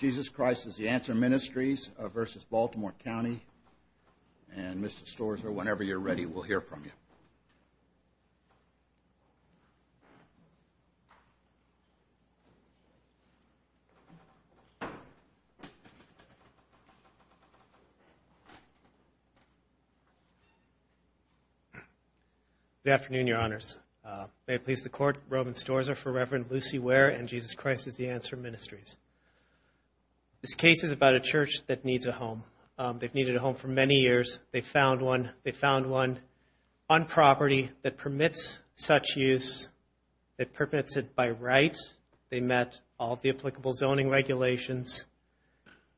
Jesus Christ is the Answer Ministries v. Baltimore County, and Mr. Storzer, whenever you're ready, we'll hear from you. Roman Storzer for Rev. Lucy Ware and Jesus Christ is the Answer Ministries. This case is about a church that needs a home. They've needed a home for many years. They found one on property that permits such use, that permits it by right. They met all the applicable zoning regulations,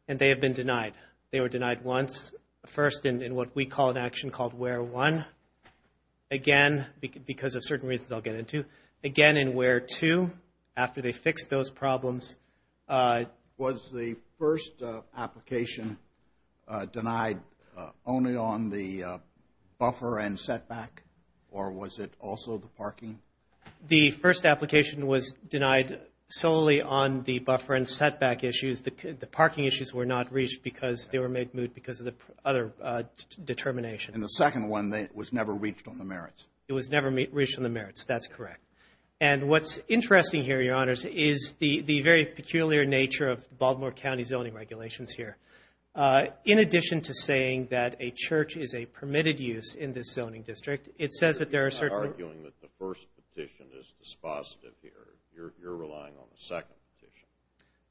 and they have been denied. They were denied once, first in what we call an action called Ware 1, again because of certain reasons I'll get into, again in Ware 2 after they fixed those problems. Was the first application denied only on the buffer and setback, or was it also the parking? The first application was denied solely on the buffer and setback issues. The parking issues were not reached because they were made moot because of the other determination. And the second one was never reached on the merits. It was never reached on the merits. That's correct. And what's interesting here, Your Honors, is the very peculiar nature of the Baltimore County zoning regulations here. In addition to saying that a church is a permitted use in this zoning district, it says that there are certain- You're not arguing that the first petition is dispositive here. You're relying on the second petition.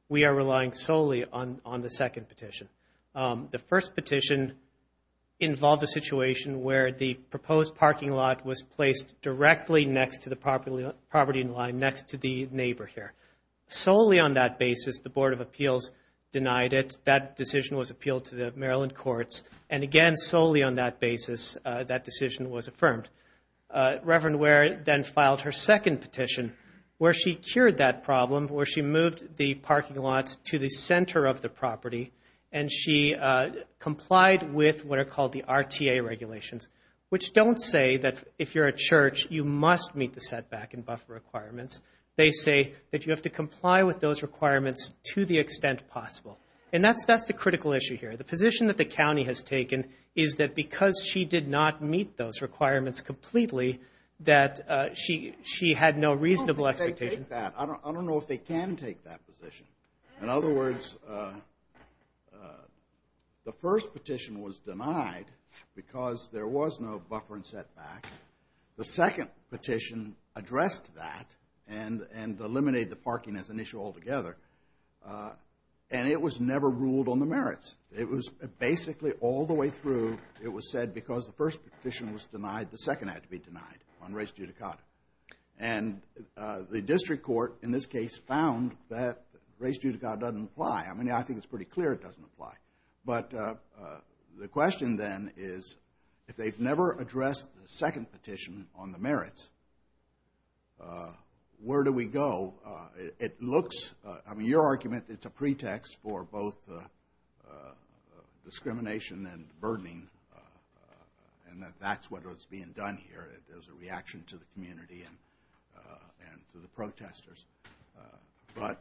We are relying solely on the second petition. The first petition involved a situation where the proposed parking lot was placed directly next to the property in line, next to the neighbor here. Solely on that basis, the Board of Appeals denied it. That decision was appealed to the Maryland courts. And again, solely on that basis, that decision was affirmed. Reverend Ware then filed her second petition where she cured that problem, where she moved the parking lot to the center of the property, and she complied with what are called the RTA regulations, which don't say that if you're a church, you must meet the setback and buffer requirements. They say that you have to comply with those requirements to the extent possible. And that's the critical issue here. The position that the county has taken is that because she did not meet those requirements completely, that she had no reasonable expectation. I don't know if they can take that position. In other words, the first petition was denied because there was no buffer and setback. The second petition addressed that and eliminated the parking as an issue altogether. And it was never ruled on the merits. It was basically all the way through, it was said because the first petition was denied, the second had to be denied on race judicata. And the district court in this case found that race judicata doesn't apply. I mean, I think it's pretty clear it doesn't apply. But the question then is if they've never addressed the second petition on the merits, where do we go? It looks, I mean, your argument, it's a pretext for both discrimination and burdening, and that that's what is being done here. There's a reaction to the community and to the protesters. But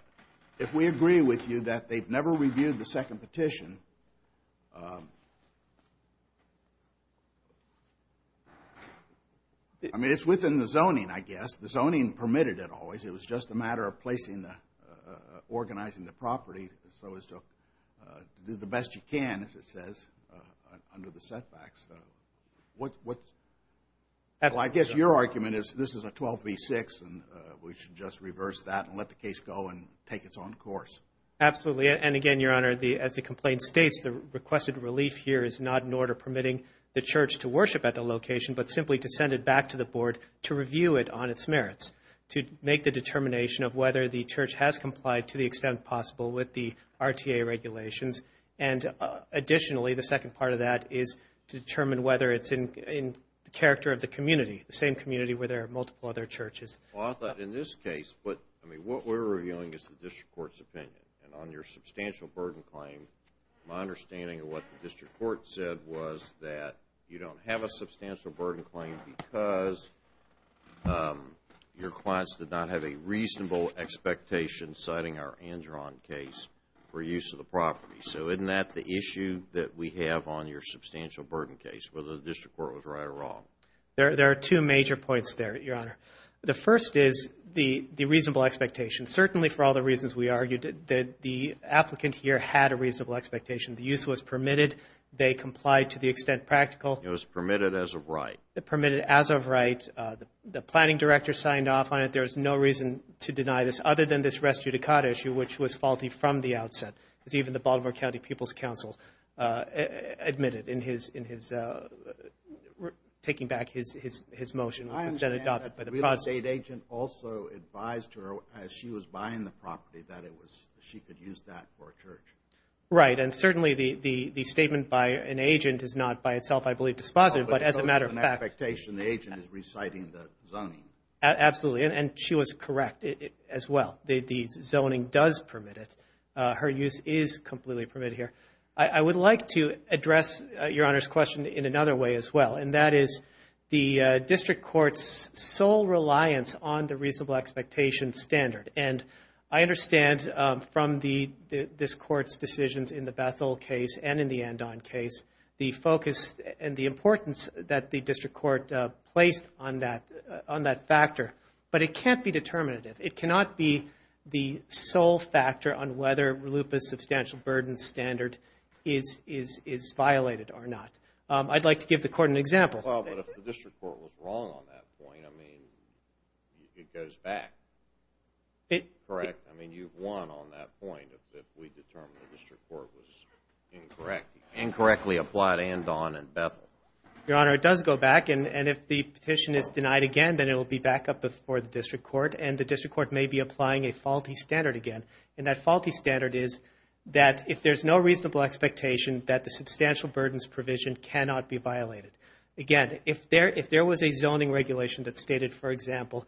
if we agree with you that they've never reviewed the second petition, I mean, it's within the zoning, I guess. The zoning permitted it always. It was just a matter of placing the organizing the property so as to do the best you can, as it says, under the setbacks. Well, I guess your argument is this is a 12 v. 6, and we should just reverse that and let the case go and take its own course. Absolutely. And again, Your Honor, as the complaint states, the requested relief here is not an order permitting the church to worship at the location, but simply to send it back to the board to review it on its merits, to make the determination of whether the church has complied to the extent possible with the RTA regulations. And additionally, the second part of that is to determine whether it's in character of the community, the same community where there are multiple other churches. Well, I thought in this case, but, I mean, what we're reviewing is the district court's opinion. And on your substantial burden claim, my understanding of what the district court said was that you don't have a substantial burden claim because your clients did not have a reasonable expectation, citing our Andron case, for use of the property. So isn't that the issue that we have on your substantial burden case, whether the district court was right or wrong? There are two major points there, Your Honor. The first is the reasonable expectation. Certainly, for all the reasons we argued, the applicant here had a reasonable expectation. The use was permitted. They complied to the extent practical. It was permitted as a right. The planning director signed off on it. There's no reason to deny this, other than this res judicata issue, which was faulty from the outset, as even the Baltimore County People's Council admitted in taking back his motion. I understand that the real estate agent also advised her as she was buying the property that she could use that for a church. Right, and certainly the statement by an agent is not by itself, I believe, dispositive. But as a matter of fact. So there's an expectation the agent is reciting the zoning. Absolutely, and she was correct as well. The zoning does permit it. Her use is completely permitted here. I would like to address Your Honor's question in another way as well, and that is the district court's sole reliance on the reasonable expectation standard. And I understand from this court's decisions in the Bethel case and in the Andron case, the focus and the importance that the district court placed on that factor. But it can't be determinative. It cannot be the sole factor on whether RLUIPA's substantial burden standard is violated or not. I'd like to give the court an example. Well, but if the district court was wrong on that point, I mean, it goes back. Correct? I mean, you've won on that point if we determine the district court was incorrect. Incorrectly applied Andron and Bethel. Your Honor, it does go back, and if the petition is denied again, then it will be back up before the district court, and the district court may be applying a faulty standard again. And that faulty standard is that if there's no reasonable expectation, that the substantial burdens provision cannot be violated. Again, if there was a zoning regulation that stated, for example,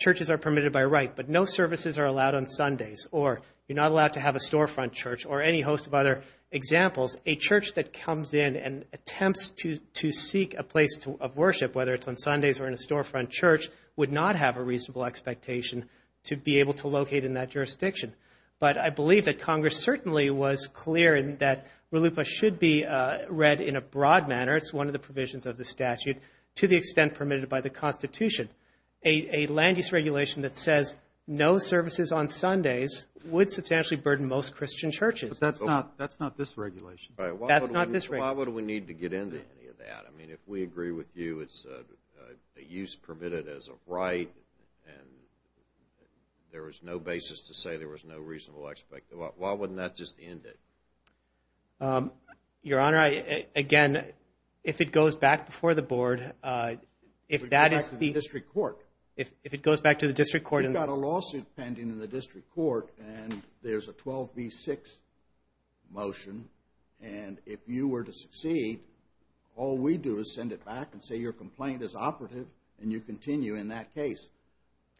churches are permitted by right, but no services are allowed on Sundays, or you're not allowed to have a storefront church, or any host of other examples, a church that comes in and attempts to seek a place of worship, whether it's on Sundays or in a storefront church, would not have a reasonable expectation to be able to locate in that jurisdiction. But I believe that Congress certainly was clear that RLUIPA should be read in a broad manner. It's one of the provisions of the statute, to the extent permitted by the Constitution. A land-use regulation that says no services on Sundays would substantially burden most Christian churches. But that's not this regulation. That's not this regulation. Why would we need to get into any of that? I mean, if we agree with you, it's a use permitted as a right, and there is no basis to say there was no reasonable expectation. Why wouldn't that just end it? Your Honor, again, if it goes back before the board, if that is the district court, if it goes back to the district court. We've got a lawsuit pending in the district court, and there's a 12B6 motion, and if you were to succeed, all we do is send it back and say your complaint is operative, and you continue in that case.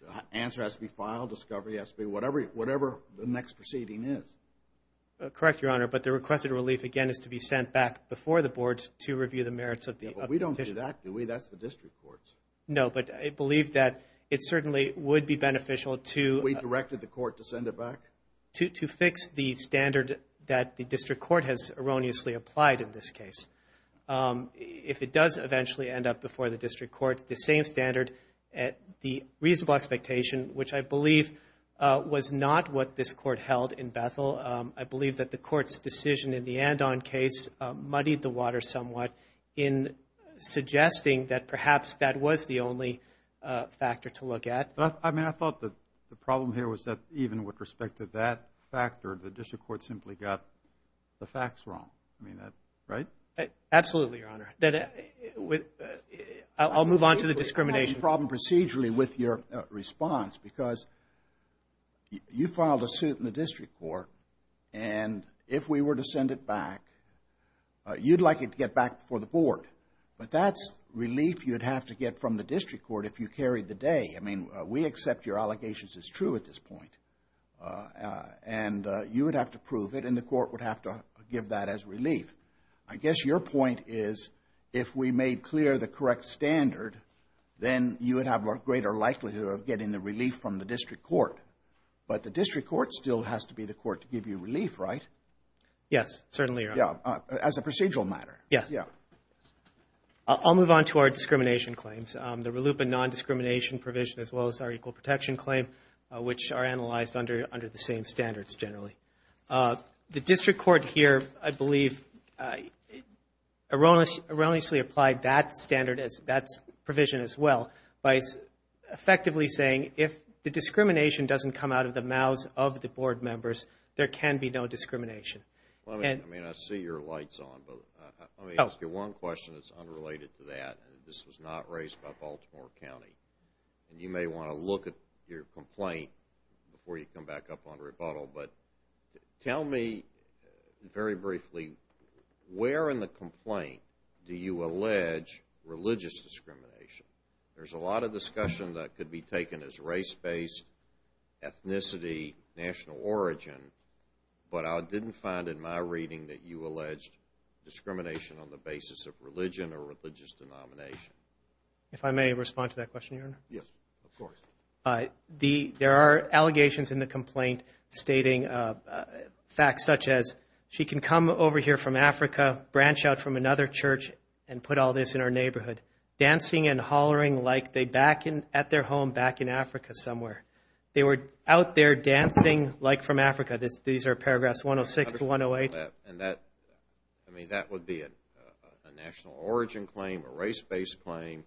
The answer has to be filed, discovery has to be whatever the next proceeding is. Correct, Your Honor, but the requested relief, again, is to be sent back before the board to review the merits of the petition. We don't do that, do we? That's the district court's. No, but I believe that it certainly would be beneficial to... We directed the court to send it back? To fix the standard that the district court has erroneously applied in this case. If it does eventually end up before the district court, the same standard, the reasonable expectation, which I believe was not what this court held in Bethel, I believe that the court's decision in the Andon case muddied the water somewhat in suggesting that perhaps that was the only factor to look at. I mean, I thought the problem here was that even with respect to that factor, the district court simply got the facts wrong, right? Absolutely, Your Honor. I'll move on to the discrimination. The problem procedurally with your response, because you filed a suit in the district court, and if we were to send it back, you'd like it to get back before the board, but that's relief you'd have to get from the district court if you carried the day. I mean, we accept your allegations as true at this point, and you would have to prove it, and the court would have to give that as relief. I guess your point is if we made clear the correct standard, then you would have a greater likelihood of getting the relief from the district court, but the district court still has to be the court to give you relief, right? Yes, certainly, Your Honor. As a procedural matter. Yes. I'll move on to our discrimination claims. The RELUPA non-discrimination provision as well as our equal protection claim, which are analyzed under the same standards generally. The district court here, I believe, erroneously applied that standard, that provision as well, by effectively saying if the discrimination doesn't come out of the mouths of the board members, there can be no discrimination. I mean, I see your light's on, but let me ask you one question that's unrelated to that, and this was not raised by Baltimore County, and you may want to look at your complaint before you come back up on rebuttal, but tell me very briefly where in the complaint do you allege religious discrimination? There's a lot of discussion that could be taken as race-based, ethnicity, national origin, but I didn't find in my reading that you alleged discrimination on the basis of religion or religious denomination. If I may respond to that question, Your Honor? Yes, of course. There are allegations in the complaint stating facts such as she can come over here from Africa, branch out from another church and put all this in her neighborhood, dancing and hollering like they're back at their home back in Africa somewhere. They were out there dancing like from Africa. These are paragraphs 106 to 108. I mean, that would be a national origin claim, a race-based claim,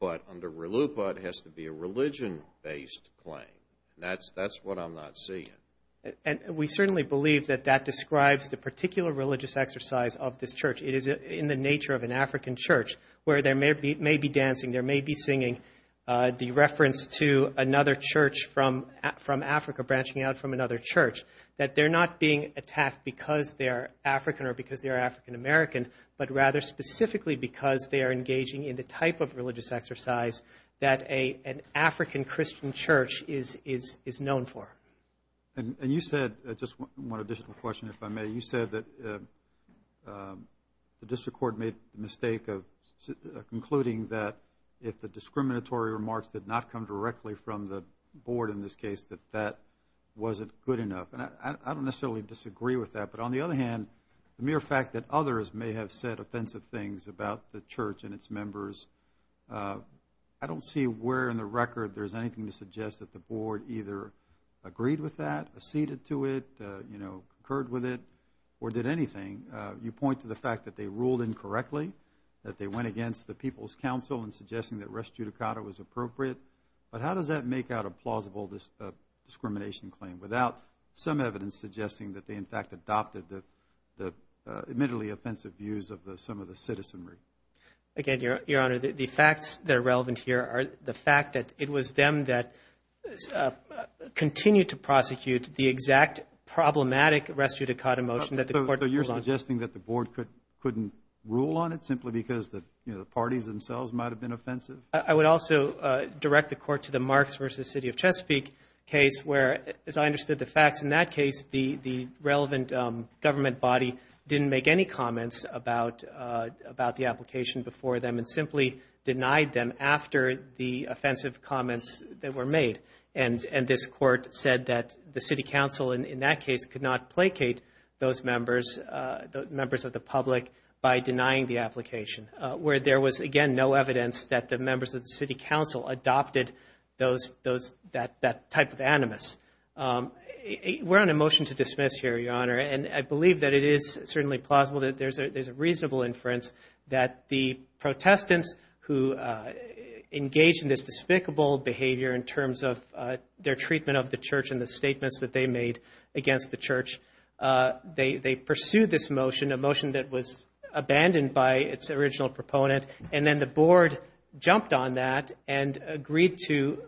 but under RLUPA it has to be a religion-based claim. That's what I'm not seeing. We certainly believe that that describes the particular religious exercise of this church. It is in the nature of an African church where there may be dancing, there may be singing, the reference to another church from Africa, branching out from another church, that they're not being attacked because they're African or because they're African American, but rather specifically because they are engaging in the type of religious exercise that an African Christian church is known for. And you said, just one additional question if I may, you said that the district court made the mistake of concluding that if the discriminatory remarks did not come directly from the board in this case, that that wasn't good enough. And I don't necessarily disagree with that, but on the other hand, the mere fact that others may have said offensive things about the church and its members, I don't see where in the record there's anything to suggest that the board either agreed with that, acceded to it, you know, concurred with it, or did anything. You point to the fact that they ruled incorrectly, that they went against the people's counsel in suggesting that res judicata was appropriate. But how does that make out a plausible discrimination claim without some evidence suggesting that they, in fact, adopted the admittedly offensive views of some of the citizenry? Again, Your Honor, the facts that are relevant here are the fact that it was them that continued to prosecute the exact problematic res judicata motion that the court ruled on. So you're suggesting that the board couldn't rule on it simply because the parties themselves might have been offensive? I would also direct the court to the Marks v. City of Chesapeake case where, as I understood the facts in that case, the relevant government body didn't make any comments about the application before them and simply denied them after the offensive comments that were made. And this court said that the city council, in that case, could not placate those members of the public by denying the application, where there was, again, no evidence that the members of the city council adopted that type of animus. We're on a motion to dismiss here, Your Honor, and I believe that it is certainly plausible that there's a reasonable inference that the Protestants who engaged in this despicable behavior in terms of their treatment of the church and the statements that they made against the church, they pursued this motion, a motion that was abandoned by its original proponent, and then the board jumped on that and agreed to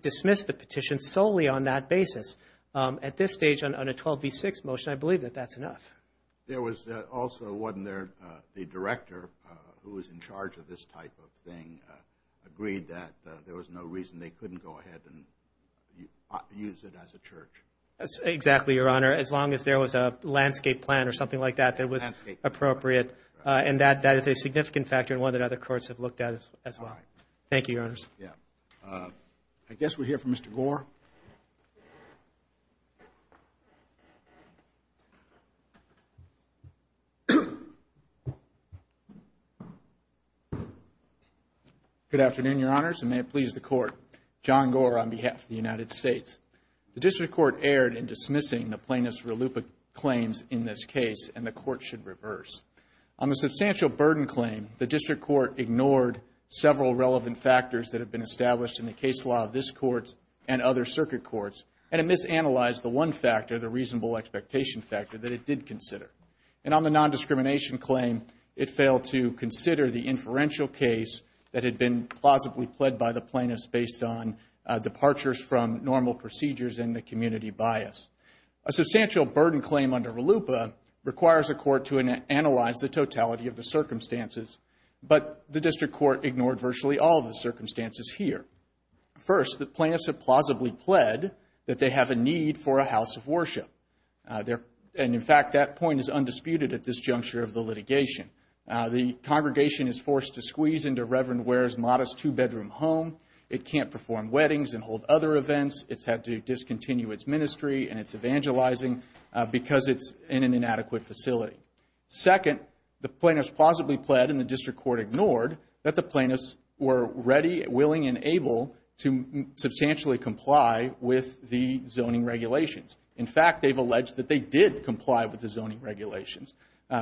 dismiss the petition solely on that basis. At this stage, on a 12 v. 6 motion, I believe that that's enough. There was also one there, the director, who was in charge of this type of thing, agreed that there was no reason they couldn't go ahead and use it as a church. Exactly, Your Honor, as long as there was a landscape plan or something like that that was appropriate. And that is a significant factor and one that other courts have looked at as well. Thank you, Your Honors. I guess we'll hear from Mr. Gore. Good afternoon, Your Honors, and may it please the Court. John Gore on behalf of the United States. The District Court erred in dismissing the plaintiff's reluptant claims in this case, and the Court should reverse. On the substantial burden claim, the District Court ignored several relevant factors that have been established in the case law of this Court and other circuit courts, and it misanalyzed the one factor, the reasonable expectation factor, that it did consider. And on the nondiscrimination claim, it failed to consider the inferential case that had been plausibly pled by the plaintiffs based on departures from normal procedures and the community bias. A substantial burden claim under RLUIPA requires a court to analyze the totality of the circumstances, but the District Court ignored virtually all of the circumstances here. First, the plaintiffs have plausibly pled that they have a need for a house of worship. And, in fact, that point is undisputed at this juncture of the litigation. The congregation is forced to squeeze into Reverend Ware's modest two-bedroom home. It can't perform weddings and hold other events. It's had to discontinue its ministry and its evangelizing because it's in an inadequate facility. Second, the plaintiffs plausibly pled, and the District Court ignored, that the plaintiffs were ready, willing, and able to substantially comply with the zoning regulations. In fact, they've alleged that they did comply with the zoning regulations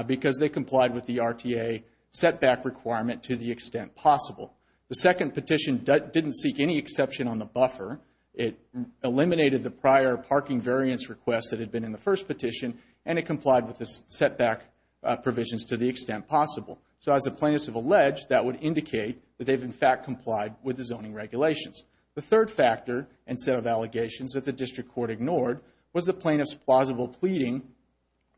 because they complied with the RTA setback requirement to the extent possible. The second petition didn't seek any exception on the buffer. It eliminated the prior parking variance request that had been in the first petition, and it complied with the setback provisions to the extent possible. So, as the plaintiffs have alleged, that would indicate that they've, in fact, complied with the zoning regulations. The third factor and set of allegations that the District Court ignored was the plaintiffs' plausible pleading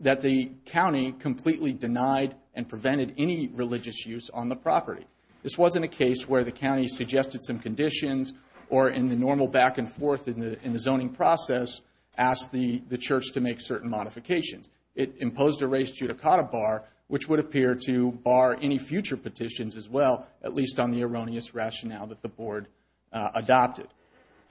that the county completely denied and prevented any religious use on the property. This wasn't a case where the county suggested some conditions or in the normal back-and-forth in the zoning process asked the church to make certain modifications. It imposed a race judicata bar, which would appear to bar any future petitions as well, at least on the erroneous rationale that the board adopted.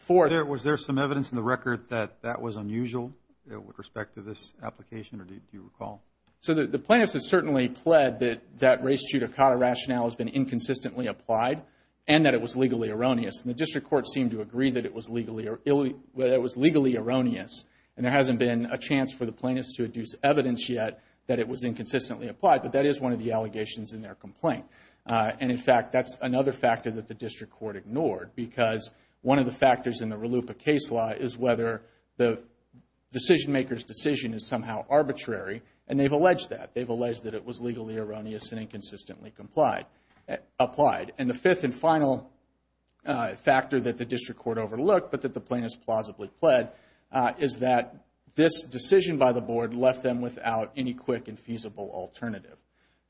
Was there some evidence in the record that that was unusual with respect to this application, or do you recall? So, the plaintiffs have certainly pled that that race judicata rationale has been inconsistently applied and that it was legally erroneous, and the District Court seemed to agree that it was legally erroneous, and there hasn't been a chance for the plaintiffs to adduce evidence yet that it was inconsistently applied, but that is one of the allegations in their complaint. And, in fact, that's another factor that the District Court ignored because one of the factors in the RLUIPA case law is whether the decision-maker's decision is somehow arbitrary, and they've alleged that. They've alleged that it was legally erroneous and inconsistently applied. And the fifth and final factor that the District Court overlooked, but that the plaintiffs plausibly pled, is that this decision by the board left them without any quick and feasible alternative.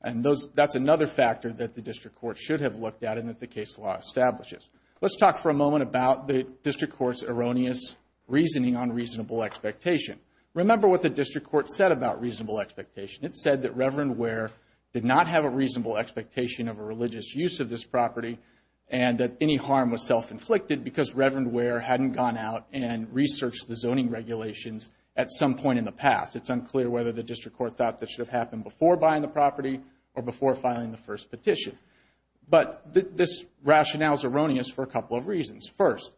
And that's another factor that the District Court should have looked at and that the case law establishes. Let's talk for a moment about the District Court's erroneous reasoning on reasonable expectation. Remember what the District Court said about reasonable expectation. It said that Reverend Ware did not have a reasonable expectation of a religious use of this property and that any harm was self-inflicted because Reverend Ware hadn't gone out and researched the zoning regulations at some point in the past. It's unclear whether the District Court thought that should have happened before buying the property or before filing the first petition. But this rationale is erroneous for a couple of reasons. First,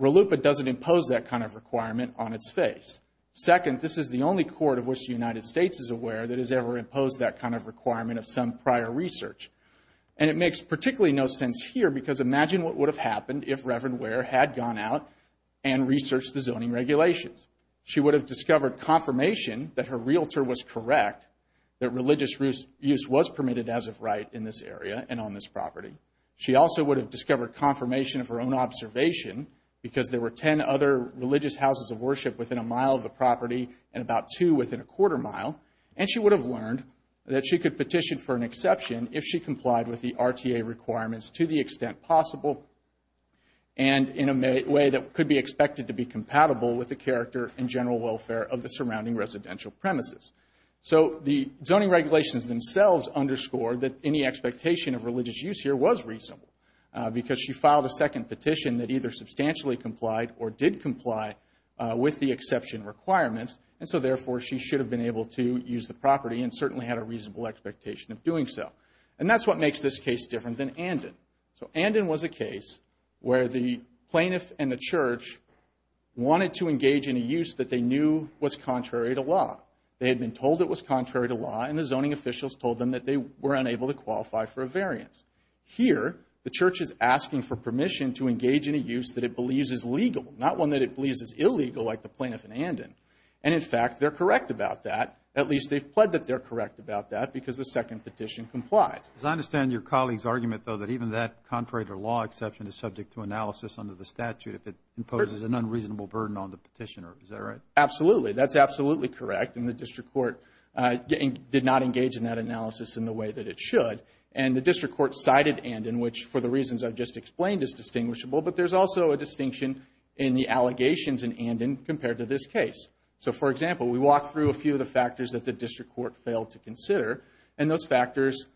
RLUIPA doesn't impose that kind of requirement on its face. Second, this is the only court of which the United States is aware that has ever imposed that kind of requirement of some prior research. And it makes particularly no sense here because imagine what would have happened if Reverend Ware had gone out and researched the zoning regulations. She would have discovered confirmation that her realtor was correct, that religious use was permitted as of right in this area and on this property. She also would have discovered confirmation of her own observation because there were 10 other religious houses of worship within a mile of the property and about two within a quarter mile. And she would have learned that she could petition for an exception if she complied with the RTA requirements to the extent possible and in a way that could be expected to be compatible with the character and general welfare of the surrounding residential premises. So the zoning regulations themselves underscore that any expectation of religious use here was reasonable because she filed a second petition that either substantially complied or did comply with the exception requirements, and so therefore she should have been able to use the property and certainly had a reasonable expectation of doing so. And that's what makes this case different than Andon. So Andon was a case where the plaintiff and the church wanted to engage in a use that they knew was contrary to law. They had been told it was contrary to law, and the zoning officials told them that they were unable to qualify for a variance. Here, the church is asking for permission to engage in a use that it believes is legal, not one that it believes is illegal like the plaintiff in Andon. And in fact, they're correct about that. At least they've pled that they're correct about that because the second petition complies. I understand your colleague's argument, though, that even that contrary to law exception is subject to analysis under the statute if it imposes an unreasonable burden on the petitioner. Is that right? Absolutely. That's absolutely correct, and the district court did not engage in that analysis in the way that it should. And the district court cited Andon, which for the reasons I've just explained is distinguishable, but there's also a distinction in the allegations in Andon compared to this case. So, for example, we walk through a few of the factors that the district court failed to consider, and those factors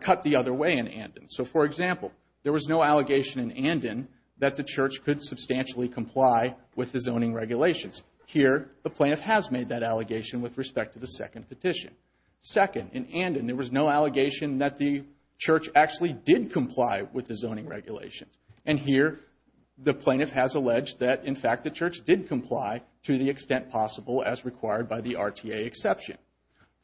cut the other way in Andon. So, for example, there was no allegation in Andon that the church could substantially comply with the zoning regulations. Here, the plaintiff has made that allegation with respect to the second petition. Second, in Andon, there was no allegation that the church actually did comply with the zoning regulations. And here, the plaintiff has alleged that, in fact, the church did comply to the extent possible as required by the RTA exception.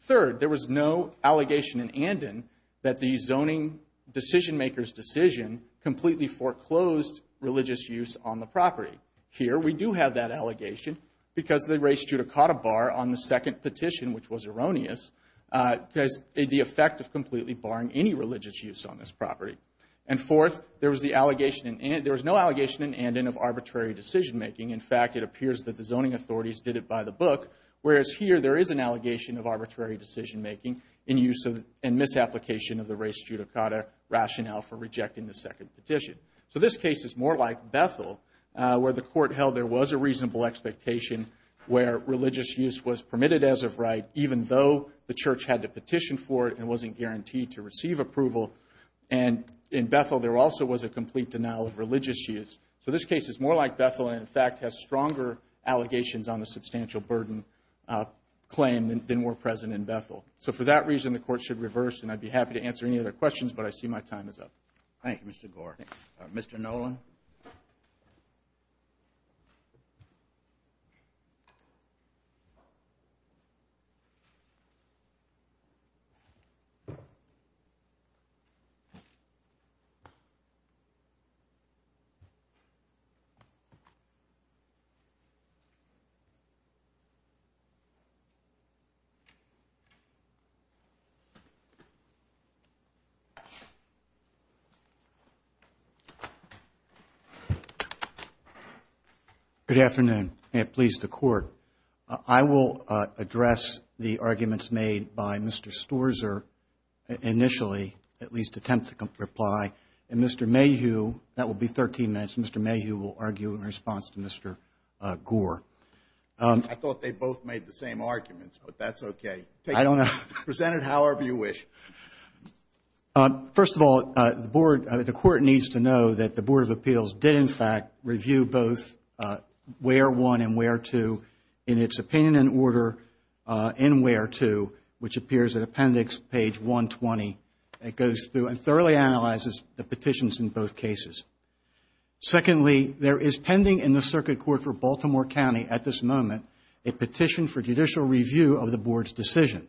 Third, there was no allegation in Andon that the zoning decision-maker's decision completely foreclosed religious use on the property. Here, we do have that allegation because the race judicata bar on the second petition, which was erroneous, has the effect of completely barring any religious use on this property. And fourth, there was no allegation in Andon of arbitrary decision-making. In fact, it appears that the zoning authorities did it by the book, whereas here there is an allegation of arbitrary decision-making in misapplication of the race judicata rationale for rejecting the second petition. So this case is more like Bethel, where the court held there was a reasonable expectation where religious use was permitted as of right, even though the church had to petition for it and wasn't guaranteed to receive approval. And in Bethel, there also was a complete denial of religious use. So this case is more like Bethel and, in fact, has stronger allegations on the substantial burden claim than were present in Bethel. So for that reason, the court should reverse, and I'd be happy to answer any other questions, but I see my time is up. Thank you, Mr. Gore. Thank you. Thank you. Good afternoon. May it please the Court. I will address the arguments made by Mr. Storzer initially, at least attempt to reply, and Mr. Mayhew, that will be 13 minutes, Mr. Mayhew will argue in response to Mr. Gore. I thought they both made the same arguments, but that's okay. I don't know. Present it however you wish. First of all, the Court needs to know that the Board of Appeals did, in fact, review both Where 1 and Where 2 in its opinion and order in Where 2, which appears in Appendix Page 120. It goes through and thoroughly analyzes the petitions in both cases. Secondly, there is pending in the Circuit Court for Baltimore County at this moment a petition for judicial review of the Board's decision.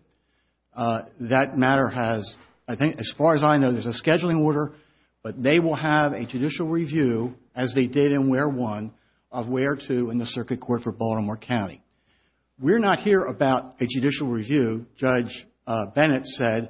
That matter has, I think, as far as I know, there's a scheduling order, but they will have a judicial review, as they did in Where 1, of Where 2 in the Circuit Court for Baltimore County. We're not here about a judicial review. Judge Bennett said,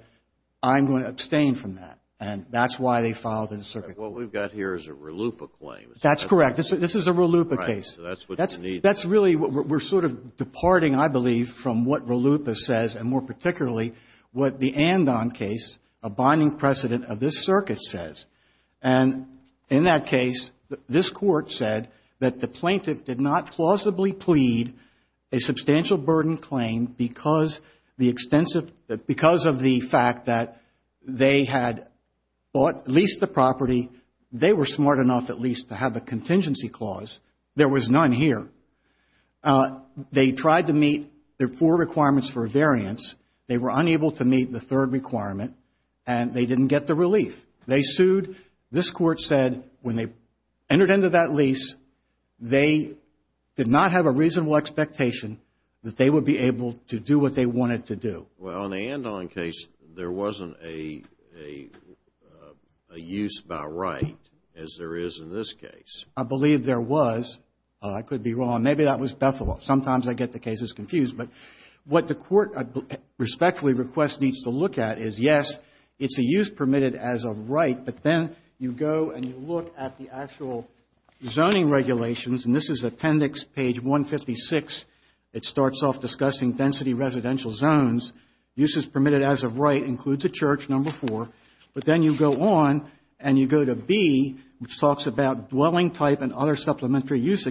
I'm going to abstain from that, and that's why they filed in the Circuit Court. What we've got here is a RLUIPA claim. That's correct. This is a RLUIPA case. That's what you need. That's really what we're sort of departing, I believe, from what RLUIPA says, and more particularly what the Andon case, a binding precedent of this circuit, says. And in that case, this Court said that the plaintiff did not plausibly plead a substantial burden claim because of the fact that they had bought, leased the property. They were smart enough, at least, to have a contingency clause. There was none here. They tried to meet their four requirements for a variance. They were unable to meet the third requirement, and they didn't get the relief. They sued. This Court said when they entered into that lease, they did not have a reasonable expectation that they would be able to do what they wanted to do. Well, in the Andon case, there wasn't a use by right, as there is in this case. I believe there was. I could be wrong. Maybe that was Bethel Law. Sometimes I get the cases confused. But what the Court respectfully requests needs to look at is, yes, it's a use permitted as a right, but then you go and you look at the actual zoning regulations, and this is appendix page 156. It starts off discussing density residential zones. Use is permitted as a right includes a church, number four. But then you go on and you go to B, which talks about dwelling type and other supplementary use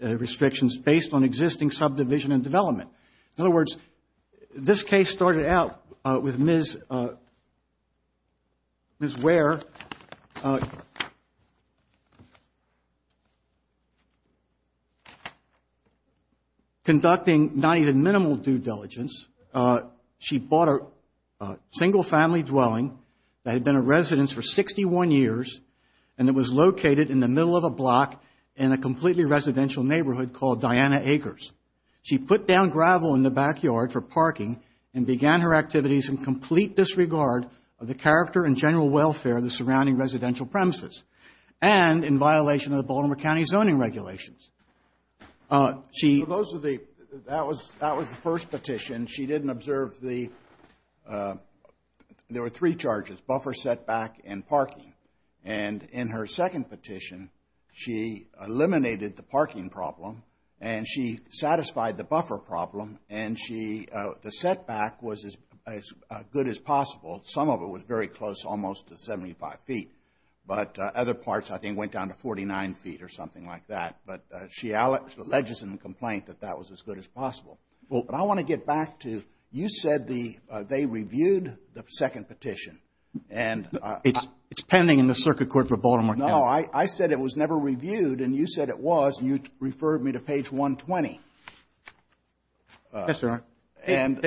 restrictions based on existing subdivision and development. In other words, this case started out with Ms. Ware conducting not even minimal due diligence. She bought a single-family dwelling that had been a residence for 61 years and it was located in the middle of a block in a completely residential neighborhood called Diana Acres. She put down gravel in the backyard for parking and began her activities in complete disregard of the character and general welfare of the surrounding residential premises and in violation of the Baltimore County zoning regulations. Those are the, that was the first petition. She didn't observe the, there were three charges, buffer setback and parking. And in her second petition, she eliminated the parking problem and she satisfied the buffer problem and the setback was as good as possible. Some of it was very close, almost to 75 feet. But other parts, I think, went down to 49 feet or something like that. But she alleges in the complaint that that was as good as possible. But I want to get back to, you said they reviewed the second petition and It's pending in the circuit court for Baltimore County. No, I said it was never reviewed and you said it was and you referred me to page 120. Yes, sir. And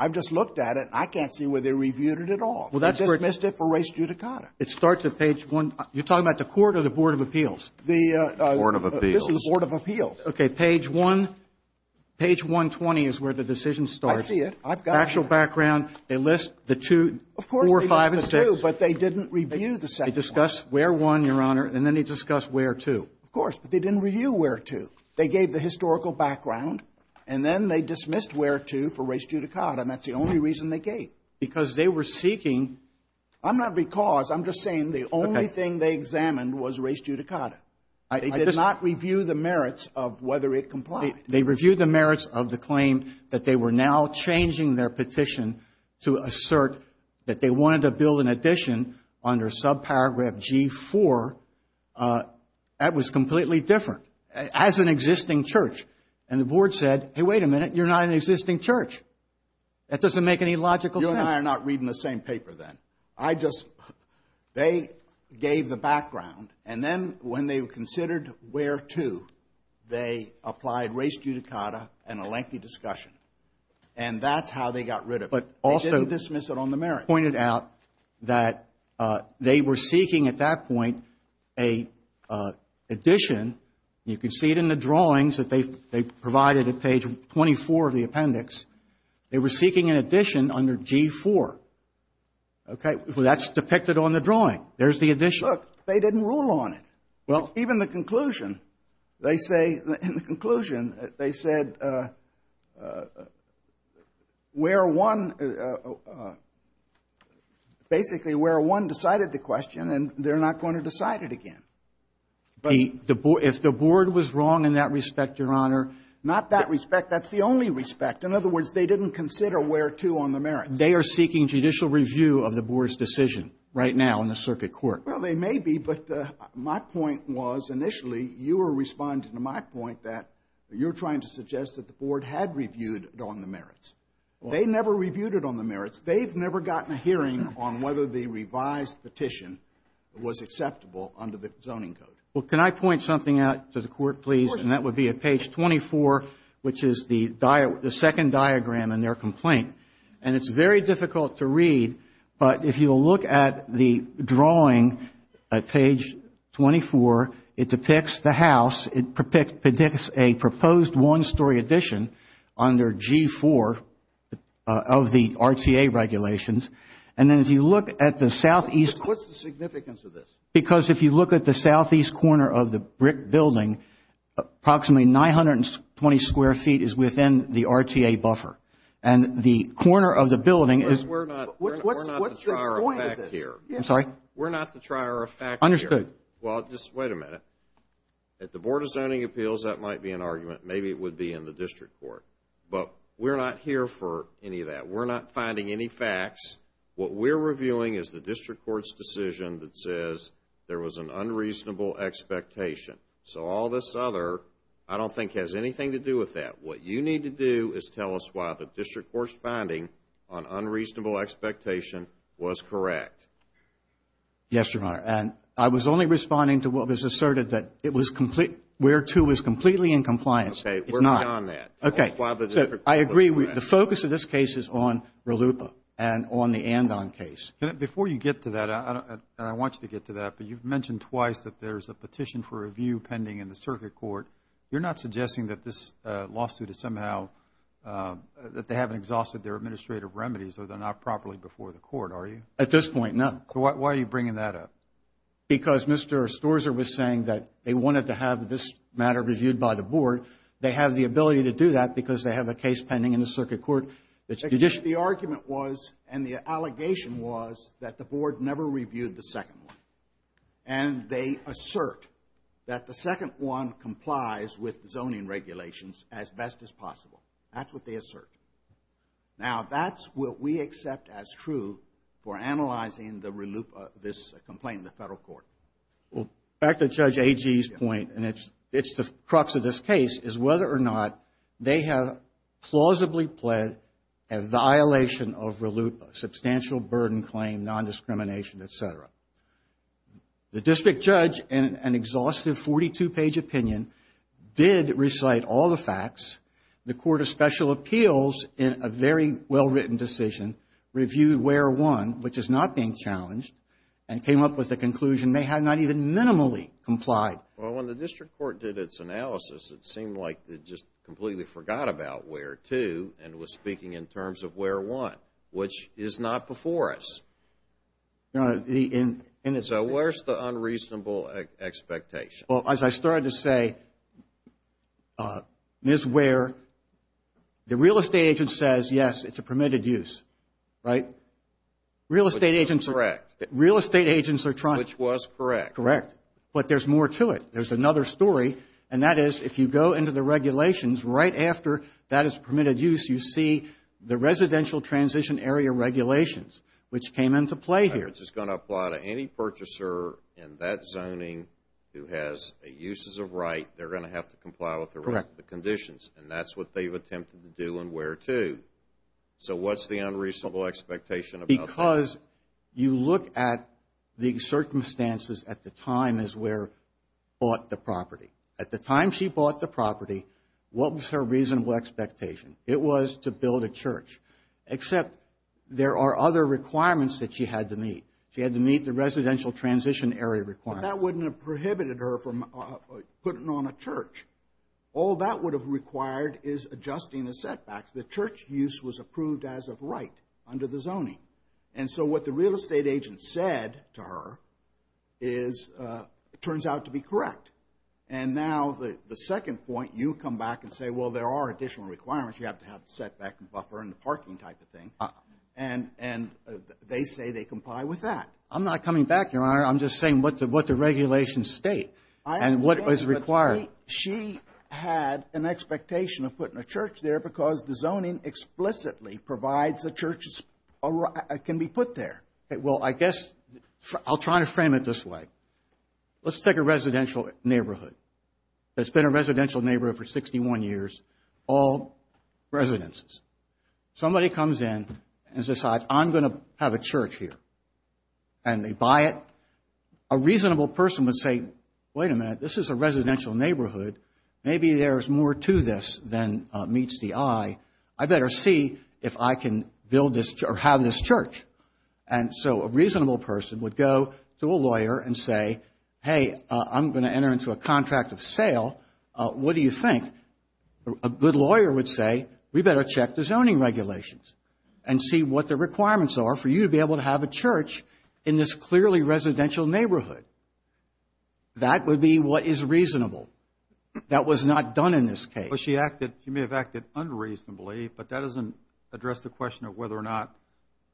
I've just looked at it. I can't see where they reviewed it at all. They dismissed it for race judicata. You're talking about the court or the Board of Appeals? The Board of Appeals. This is the Board of Appeals. Okay. Page 120 is where the decision starts. I see it. Actual background. They list the two, four, five and six. Of course they list the two, but they didn't review the second one. They discussed where one, Your Honor, and then they discussed where two. Of course, but they didn't review where two. They gave the historical background and then they dismissed where two for race judicata and that's the only reason they gave. Because they were seeking. I'm not because. I'm just saying the only thing they examined was race judicata. They did not review the merits of whether it complied. They reviewed the merits of the claim that they were now changing their petition to assert that they wanted to build an addition under subparagraph G4. That was completely different. As an existing church. And the Board said, hey, wait a minute, you're not an existing church. That doesn't make any logical sense. You and I are not reading the same paper then. I just, they gave the background and then when they considered where two, they applied race judicata and a lengthy discussion. And that's how they got rid of it. But also. They didn't dismiss it on the merits. Pointed out that they were seeking at that point an addition. You can see it in the drawings that they provided at page 24 of the appendix. They were seeking an addition under G4. Okay. Well, that's depicted on the drawing. There's the addition. Look, they didn't rule on it. Well. Even the conclusion. They say, in the conclusion, they said where one, basically where one decided the question and they're not going to decide it again. If the Board was wrong in that respect, Your Honor. Not that respect. That's the only respect. In other words, they didn't consider where two on the merits. They are seeking judicial review of the Board's decision right now in the circuit court. Well, they may be. But my point was, initially, you were responding to my point that you're trying to suggest that the Board had reviewed it on the merits. They never reviewed it on the merits. They've never gotten a hearing on whether the revised petition was acceptable under the zoning code. Well, can I point something out to the Court, please? Of course. And that would be at page 24, which is the second diagram in their complaint. And it's very difficult to read, but if you'll look at the drawing at page 24, it depicts the house. It predicts a proposed one-story addition under G4 of the RTA regulations. And then if you look at the southeast. What's the significance of this? Because if you look at the southeast corner of the brick building, approximately 920 square feet is within the RTA buffer. And the corner of the building is. We're not the trier of fact here. I'm sorry? We're not the trier of fact here. Understood. Well, just wait a minute. At the Board of Zoning Appeals, that might be an argument. Maybe it would be in the district court. But we're not here for any of that. We're not finding any facts. What we're reviewing is the district court's decision that says there was an unreasonable expectation. So all this other, I don't think, has anything to do with that. What you need to do is tell us why the district court's finding on unreasonable expectation was correct. Yes, Your Honor. And I was only responding to what was asserted that it was complete, where two was completely in compliance. Okay. It's not. We're beyond that. Okay. Tell us why the district court was correct. I agree. The focus of this case is on RLUIPA and on the Andon case. Before you get to that, I want you to get to that. But you've mentioned twice that there's a petition for review pending in the circuit court. You're not suggesting that this lawsuit is somehow, that they haven't exhausted their administrative remedies, or they're not properly before the court, are you? At this point, no. So why are you bringing that up? Because Mr. Storzer was saying that they wanted to have this matter reviewed by the board. They have the ability to do that because they have a case pending in the circuit court. The argument was, and the allegation was, that the board never reviewed the second one. And they assert that the second one complies with zoning regulations as best as possible. That's what they assert. Now, that's what we accept as true for analyzing the RLUIPA, this complaint in the federal court. Well, back to Judge Agee's point, and it's the crux of this case, is whether or not they have plausibly pled a violation of RLUIPA, substantial burden claim, nondiscrimination, et cetera. The district judge, in an exhaustive 42-page opinion, did recite all the facts. The Court of Special Appeals, in a very well-written decision, reviewed where one, which is not being challenged, and came up with a conclusion they had not even minimally complied. Well, when the district court did its analysis, it seemed like it just completely forgot about where two and was speaking in terms of where one, which is not before us. So, where's the unreasonable expectation? Well, as I started to say, Ms. Ware, the real estate agent says, yes, it's a permitted use, right? Real estate agents are trying. Which was correct. Correct. But there's more to it. There's another story, and that is, if you go into the regulations, right after that is permitted use, you see the residential transition area regulations, which came into play here. It's going to apply to any purchaser in that zoning who has uses of right. They're going to have to comply with the rest of the conditions, and that's what they've attempted to do and where to. So, what's the unreasonable expectation about that? Because you look at the circumstances at the time Ms. Ware bought the property. At the time she bought the property, what was her reasonable expectation? It was to build a church, except there are other requirements that she had to meet. She had to meet the residential transition area requirements. But that wouldn't have prohibited her from putting on a church. All that would have required is adjusting the setbacks. The church use was approved as of right under the zoning. And so what the real estate agent said to her turns out to be correct. And now the second point, you come back and say, well, there are additional requirements. You have to have the setback buffer and the parking type of thing. And they say they comply with that. I'm not coming back, Your Honor. I'm just saying what the regulations state and what is required. She had an expectation of putting a church there because the zoning explicitly provides the church can be put there. Well, I guess I'll try to frame it this way. Let's take a residential neighborhood. It's been a residential neighborhood for 61 years, all residences. Somebody comes in and decides I'm going to have a church here. And they buy it. A reasonable person would say, wait a minute, this is a residential neighborhood. Maybe there's more to this than meets the eye. I better see if I can build this or have this church. And so a reasonable person would go to a lawyer and say, hey, I'm going to enter into a contract of sale. What do you think? A good lawyer would say, we better check the zoning regulations and see what the requirements are for you to be able to have a church in this clearly residential neighborhood. That would be what is reasonable. That was not done in this case. Well, she acted, she may have acted unreasonably, but that doesn't address the question of whether or not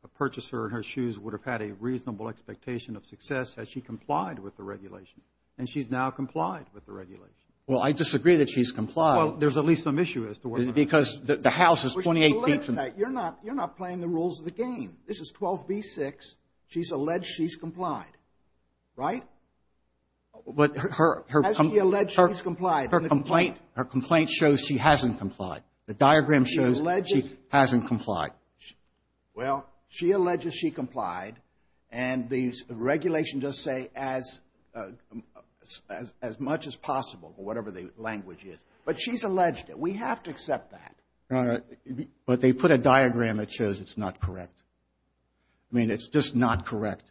a purchaser in her shoes would have had a reasonable expectation of success had she complied with the regulation. And she's now complied with the regulation. Well, I disagree that she's complied. Because the house is 28 feet from. You're not playing the rules of the game. This is 12b-6. She's alleged she's complied. Right? But her complaint shows she hasn't complied. The diagram shows she hasn't complied. Well, she alleges she complied. And the regulation does say as much as possible, or whatever the language is. But she's alleged it. We have to accept that. But they put a diagram that shows it's not correct. I mean, it's just not correct.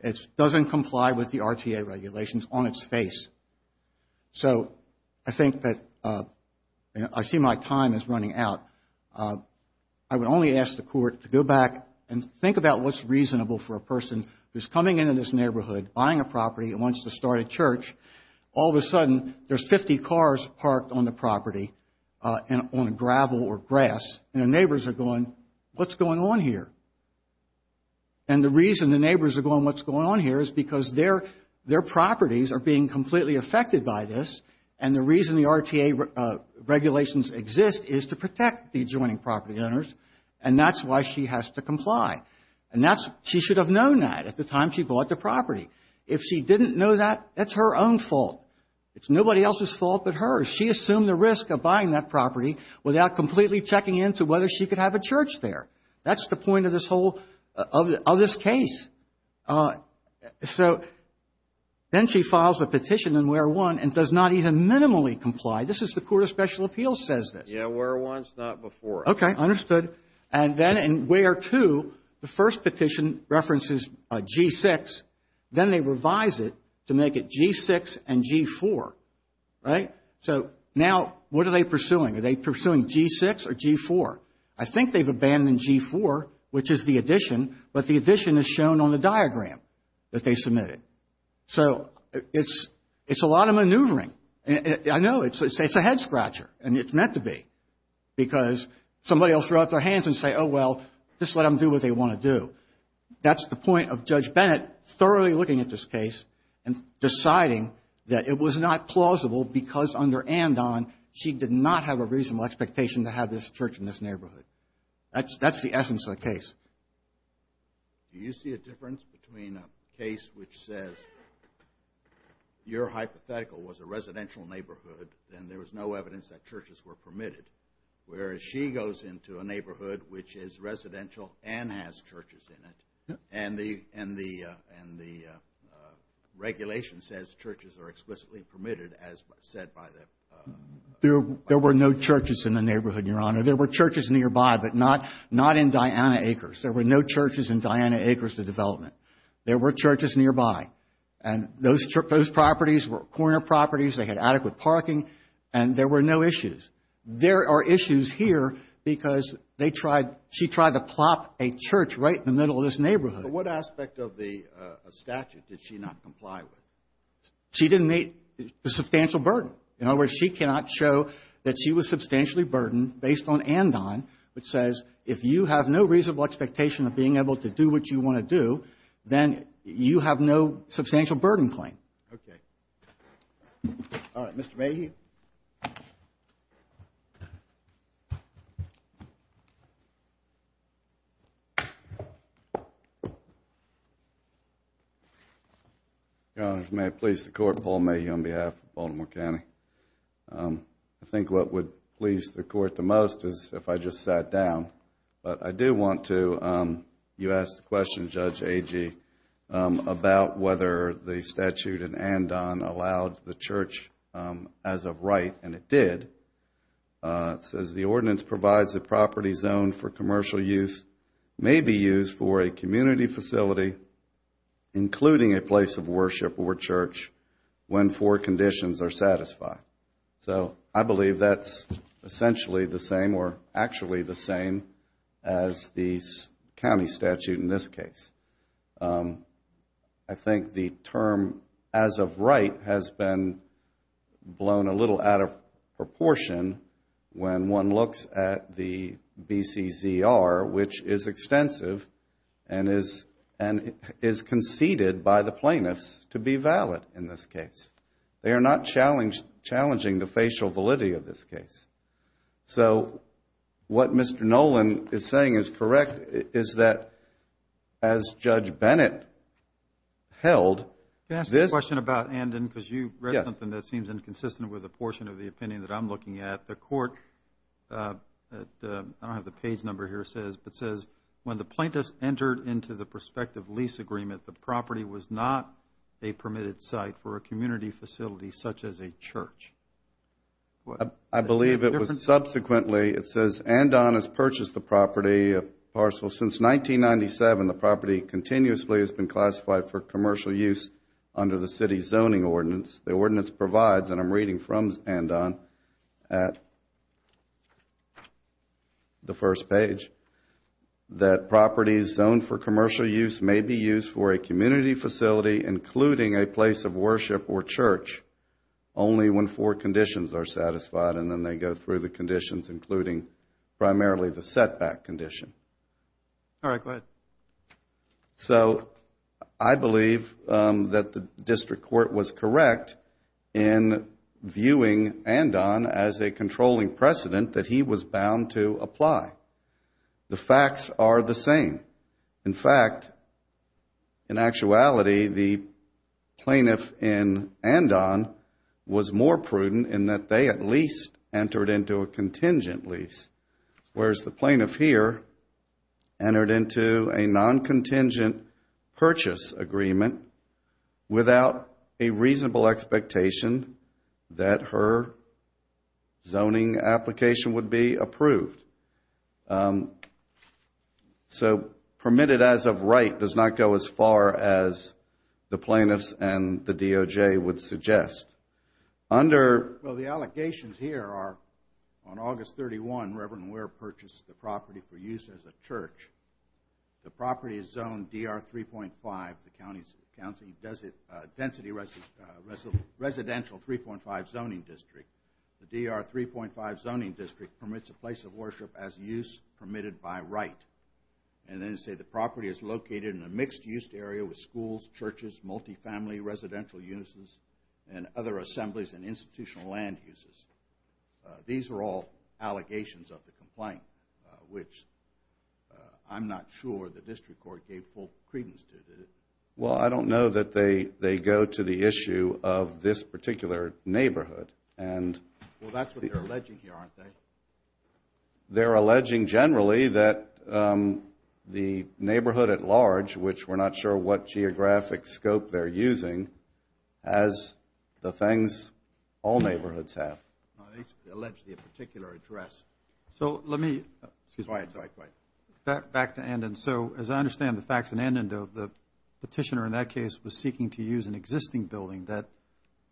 It doesn't comply with the RTA regulations on its face. So I think that I see my time is running out. I would only ask the court to go back and think about what's reasonable for a person who's coming into this neighborhood, buying a property and wants to start a church. All of a sudden, there's 50 cars parked on the property on gravel or grass. And the neighbors are going, what's going on here? And the reason the neighbors are going, what's going on here, is because their properties are being completely affected by this. And the reason the RTA regulations exist is to protect the adjoining property owners. And that's why she has to comply. And that's, she should have known that at the time she bought the property. If she didn't know that, that's her own fault. It's nobody else's fault but hers. She assumed the risk of buying that property without completely checking into whether she could have a church there. That's the point of this whole, of this case. So then she files a petition in Where 1 and does not even minimally comply. This is the Court of Special Appeals says this. Yeah, Where 1 is not before. Okay, understood. And then in Where 2, the first petition references G6. Then they revise it to make it G6 and G4, right? So now what are they pursuing? Are they pursuing G6 or G4? I think they've abandoned G4, which is the addition, but the addition is shown on the diagram that they submitted. So it's a lot of maneuvering. I know. It's a head-scratcher, and it's meant to be because somebody else will throw up their hands and say, oh, well, just let them do what they want to do. That's the point of Judge Bennett thoroughly looking at this case and deciding that it was not plausible because under Andon, she did not have a reasonable expectation to have this church in this neighborhood. That's the essence of the case. Do you see a difference between a case which says your hypothetical was a residential neighborhood and there was no evidence that churches were permitted, whereas she goes into a neighborhood which is residential and has churches in it, and the regulation says churches are explicitly permitted, as said by the... There were no churches in the neighborhood, Your Honor. There were churches nearby, but not in Diana Acres. There were no churches in Diana Acres, the development. There were churches nearby, and those properties were corner properties. They had adequate parking, and there were no issues. There are issues here because they tried... She tried to plop a church right in the middle of this neighborhood. But what aspect of the statute did she not comply with? She didn't meet the substantial burden. In other words, she cannot show that she was substantially burdened based on Andon, which says if you have no reasonable expectation of being able to do what you want to do, then you have no substantial burden claim. Okay. All right, Mr. Mahe... Thank you. Your Honor, may I please the Court? Paul Mahe on behalf of Baltimore County. I think what would please the Court the most is if I just sat down. But I do want to... You asked the question, Judge Agee, about whether the statute in Andon allowed the church as of right, and it did. It says, The ordinance provides a property zone for commercial use may be used for a community facility, including a place of worship or church, when four conditions are satisfied. So I believe that's essentially the same or actually the same as the county statute in this case. I think the term as of right has been blown a little out of proportion when one looks at the BCZR, which is extensive and is conceded by the plaintiffs to be valid in this case. They are not challenging the facial validity of this case. So what Mr. Nolan is saying is correct, is that as Judge Bennett held... Can I ask a question about Andon? Yes. Because you read something that seems inconsistent with a portion of the opinion that I'm looking at. The Court, I don't have the page number here, but says, When the plaintiffs entered into the prospective lease agreement, the property was not a permitted site for a community facility such as a church. I believe it was subsequently... It says Andon has purchased the property, a parcel since 1997. The property continuously has been classified for commercial use under the city's zoning ordinance. The ordinance provides, and I'm reading from Andon at the first page, that properties zoned for commercial use may be used for a community facility, including a place of worship or church, only when four conditions are satisfied, and then they go through the conditions, including primarily the setback condition. All right. Go ahead. So I believe that the District Court was correct in viewing Andon as a controlling precedent that he was bound to apply. The facts are the same. In fact, in actuality, the plaintiff in Andon was more prudent in that they at least entered into a contingent lease, whereas the plaintiff here entered into a non-contingent purchase agreement without a reasonable expectation that her zoning application would be approved. So permitted as of right does not go as far as the plaintiffs and the DOJ would suggest. Well, the allegations here are on August 31, Reverend Ware purchased the property for use as a church. The property is zoned DR 3.5, the County Density Residential 3.5 Zoning District. The DR 3.5 Zoning District permits a place of worship as use permitted by right, and then say the property is located in a mixed-use area with schools, churches, multifamily residential uses, and other assemblies and institutional land uses. These are all allegations of the complaint, which I'm not sure the District Court gave full credence to. Well, I don't know that they go to the issue of this particular neighborhood. Well, that's what they're alleging here, aren't they? They're alleging generally that the neighborhood at large, which we're not sure what geographic scope they're using, has the things all neighborhoods have. They allege the particular address. So let me go back to Andon. And so, as I understand the facts in Andon, the petitioner in that case was seeking to use an existing building that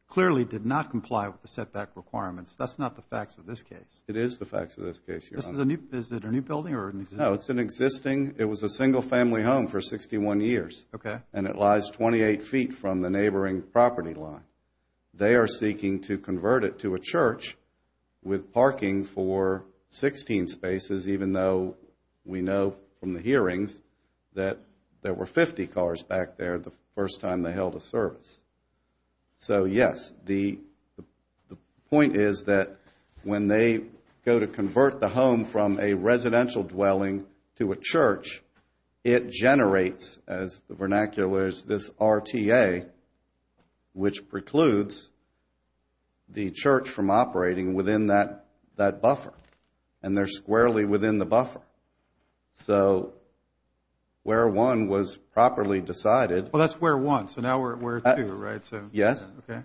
clearly did not comply with the setback requirements. That's not the facts of this case. It is the facts of this case, Your Honor. Is it a new building or an existing? No, it's an existing. It was a single-family home for 61 years. Okay. And it lies 28 feet from the neighboring property line. They are seeking to convert it to a church with parking for 16 spaces, even though we know from the hearings that there were 50 cars back there the first time they held a service. So, yes, the point is that when they go to convert the home from a residential dwelling to a church, it generates, as the vernacular is, this RTA, which precludes the church from operating within that buffer. And they're squarely within the buffer. So where one was properly decided. Well, that's where one. So now we're at where two, right? Yes. Okay.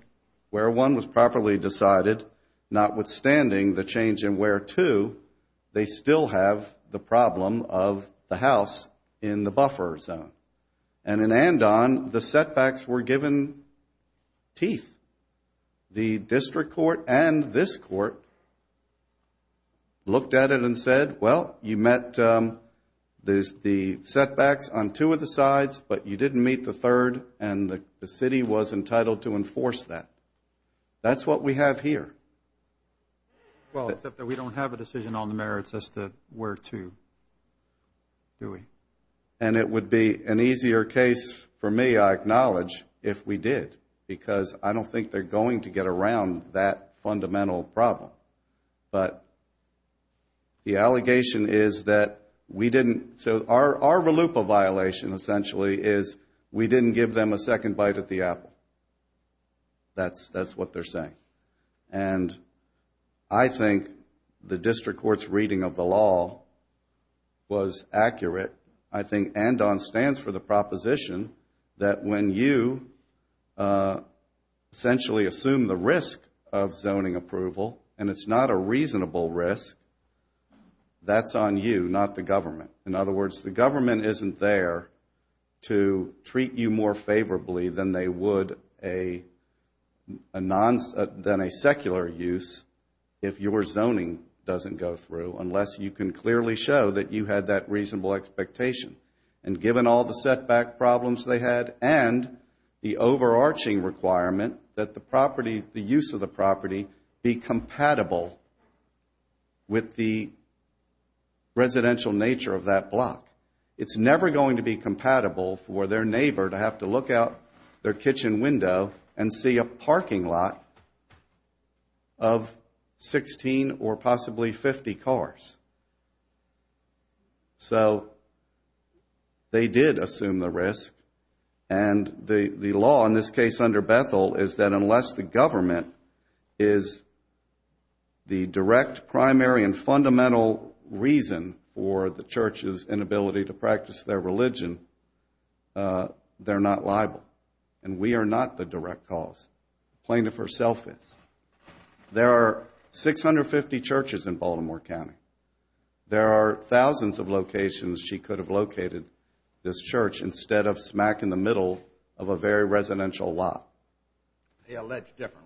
Where one was properly decided, notwithstanding the change in where two, they still have the problem of the house in the buffer zone. And in Andon, the setbacks were given teeth. The district court and this court looked at it and said, well, you met the setbacks on two of the sides, but you didn't meet the third, and the city was entitled to enforce that. That's what we have here. Well, except that we don't have a decision on the merits as to where two, do we? And it would be an easier case for me, I acknowledge, if we did, because I don't think they're going to get around that fundamental problem. But the allegation is that we didn't, so our RLUPA violation essentially is we didn't give them a second bite at the apple. That's what they're saying. And I think the district court's reading of the law was accurate. I think Andon stands for the proposition that when you essentially assume the risk of zoning approval, and it's not a reasonable risk, that's on you, not the government. In other words, the government isn't there to treat you more favorably than they would a secular use if your zoning doesn't go through, unless you can clearly show that you had that reasonable expectation. And given all the setback problems they had and the overarching requirement that the property, the use of the property, be compatible with the residential nature of that block. It's never going to be compatible for their neighbor to have to look out their kitchen window and see a parking lot of 16 or possibly 50 cars. So they did assume the risk. And the law in this case under Bethel is that unless the government is the direct primary and fundamental reason for the church's inability to practice their religion, they're not liable. And we are not the direct cause. Plaintiff herself is. There are 650 churches in Baltimore County. There are thousands of locations she could have located this church instead of smack in the middle of a very residential lot. They allege differently.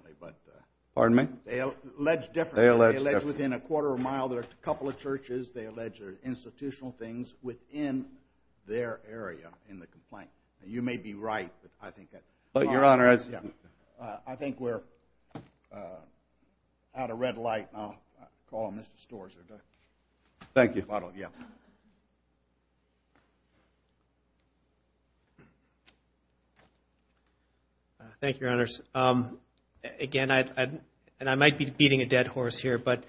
Pardon me? They allege differently. They allege differently. They allege within a quarter of a mile there are a couple of churches, they allege there are institutional things within their area in the complaint. And you may be right, but I think... But Your Honor, I... I think we're out of red light. I'll call Mr. Storrs. Thank you. Yeah. Thank you, Your Honors. Again, I might be beating a dead horse here, but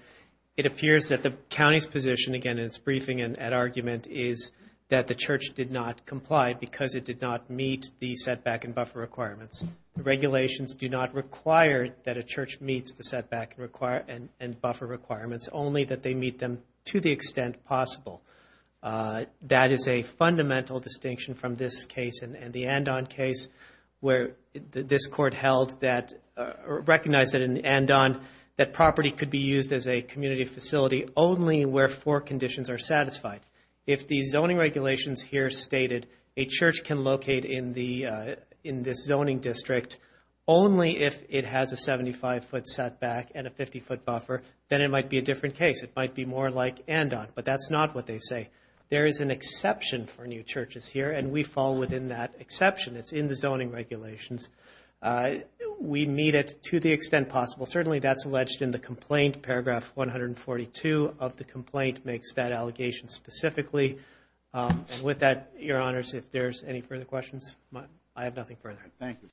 it appears that the county's position, again, in its briefing and argument is that the church did not comply because it did not meet the setback and buffer requirements. The regulations do not require that a church meets the setback and buffer requirements, only that they meet them to the extent possible. That is a fundamental distinction from this case and the Andon case where this court held that or recognized that in Andon that property could be used as a community facility only where four conditions are satisfied. If the zoning regulations here stated a church can locate in this zoning district only if it has a 75-foot setback and a 50-foot buffer, then it might be a different case. It might be more like Andon, but that's not what they say. There is an exception for new churches here, and we fall within that exception. It's in the zoning regulations. We meet it to the extent possible. Certainly that's alleged in the complaint. Paragraph 142 of the complaint makes that allegation specifically. And with that, Your Honors, if there's any further questions, I have nothing further. Thank you.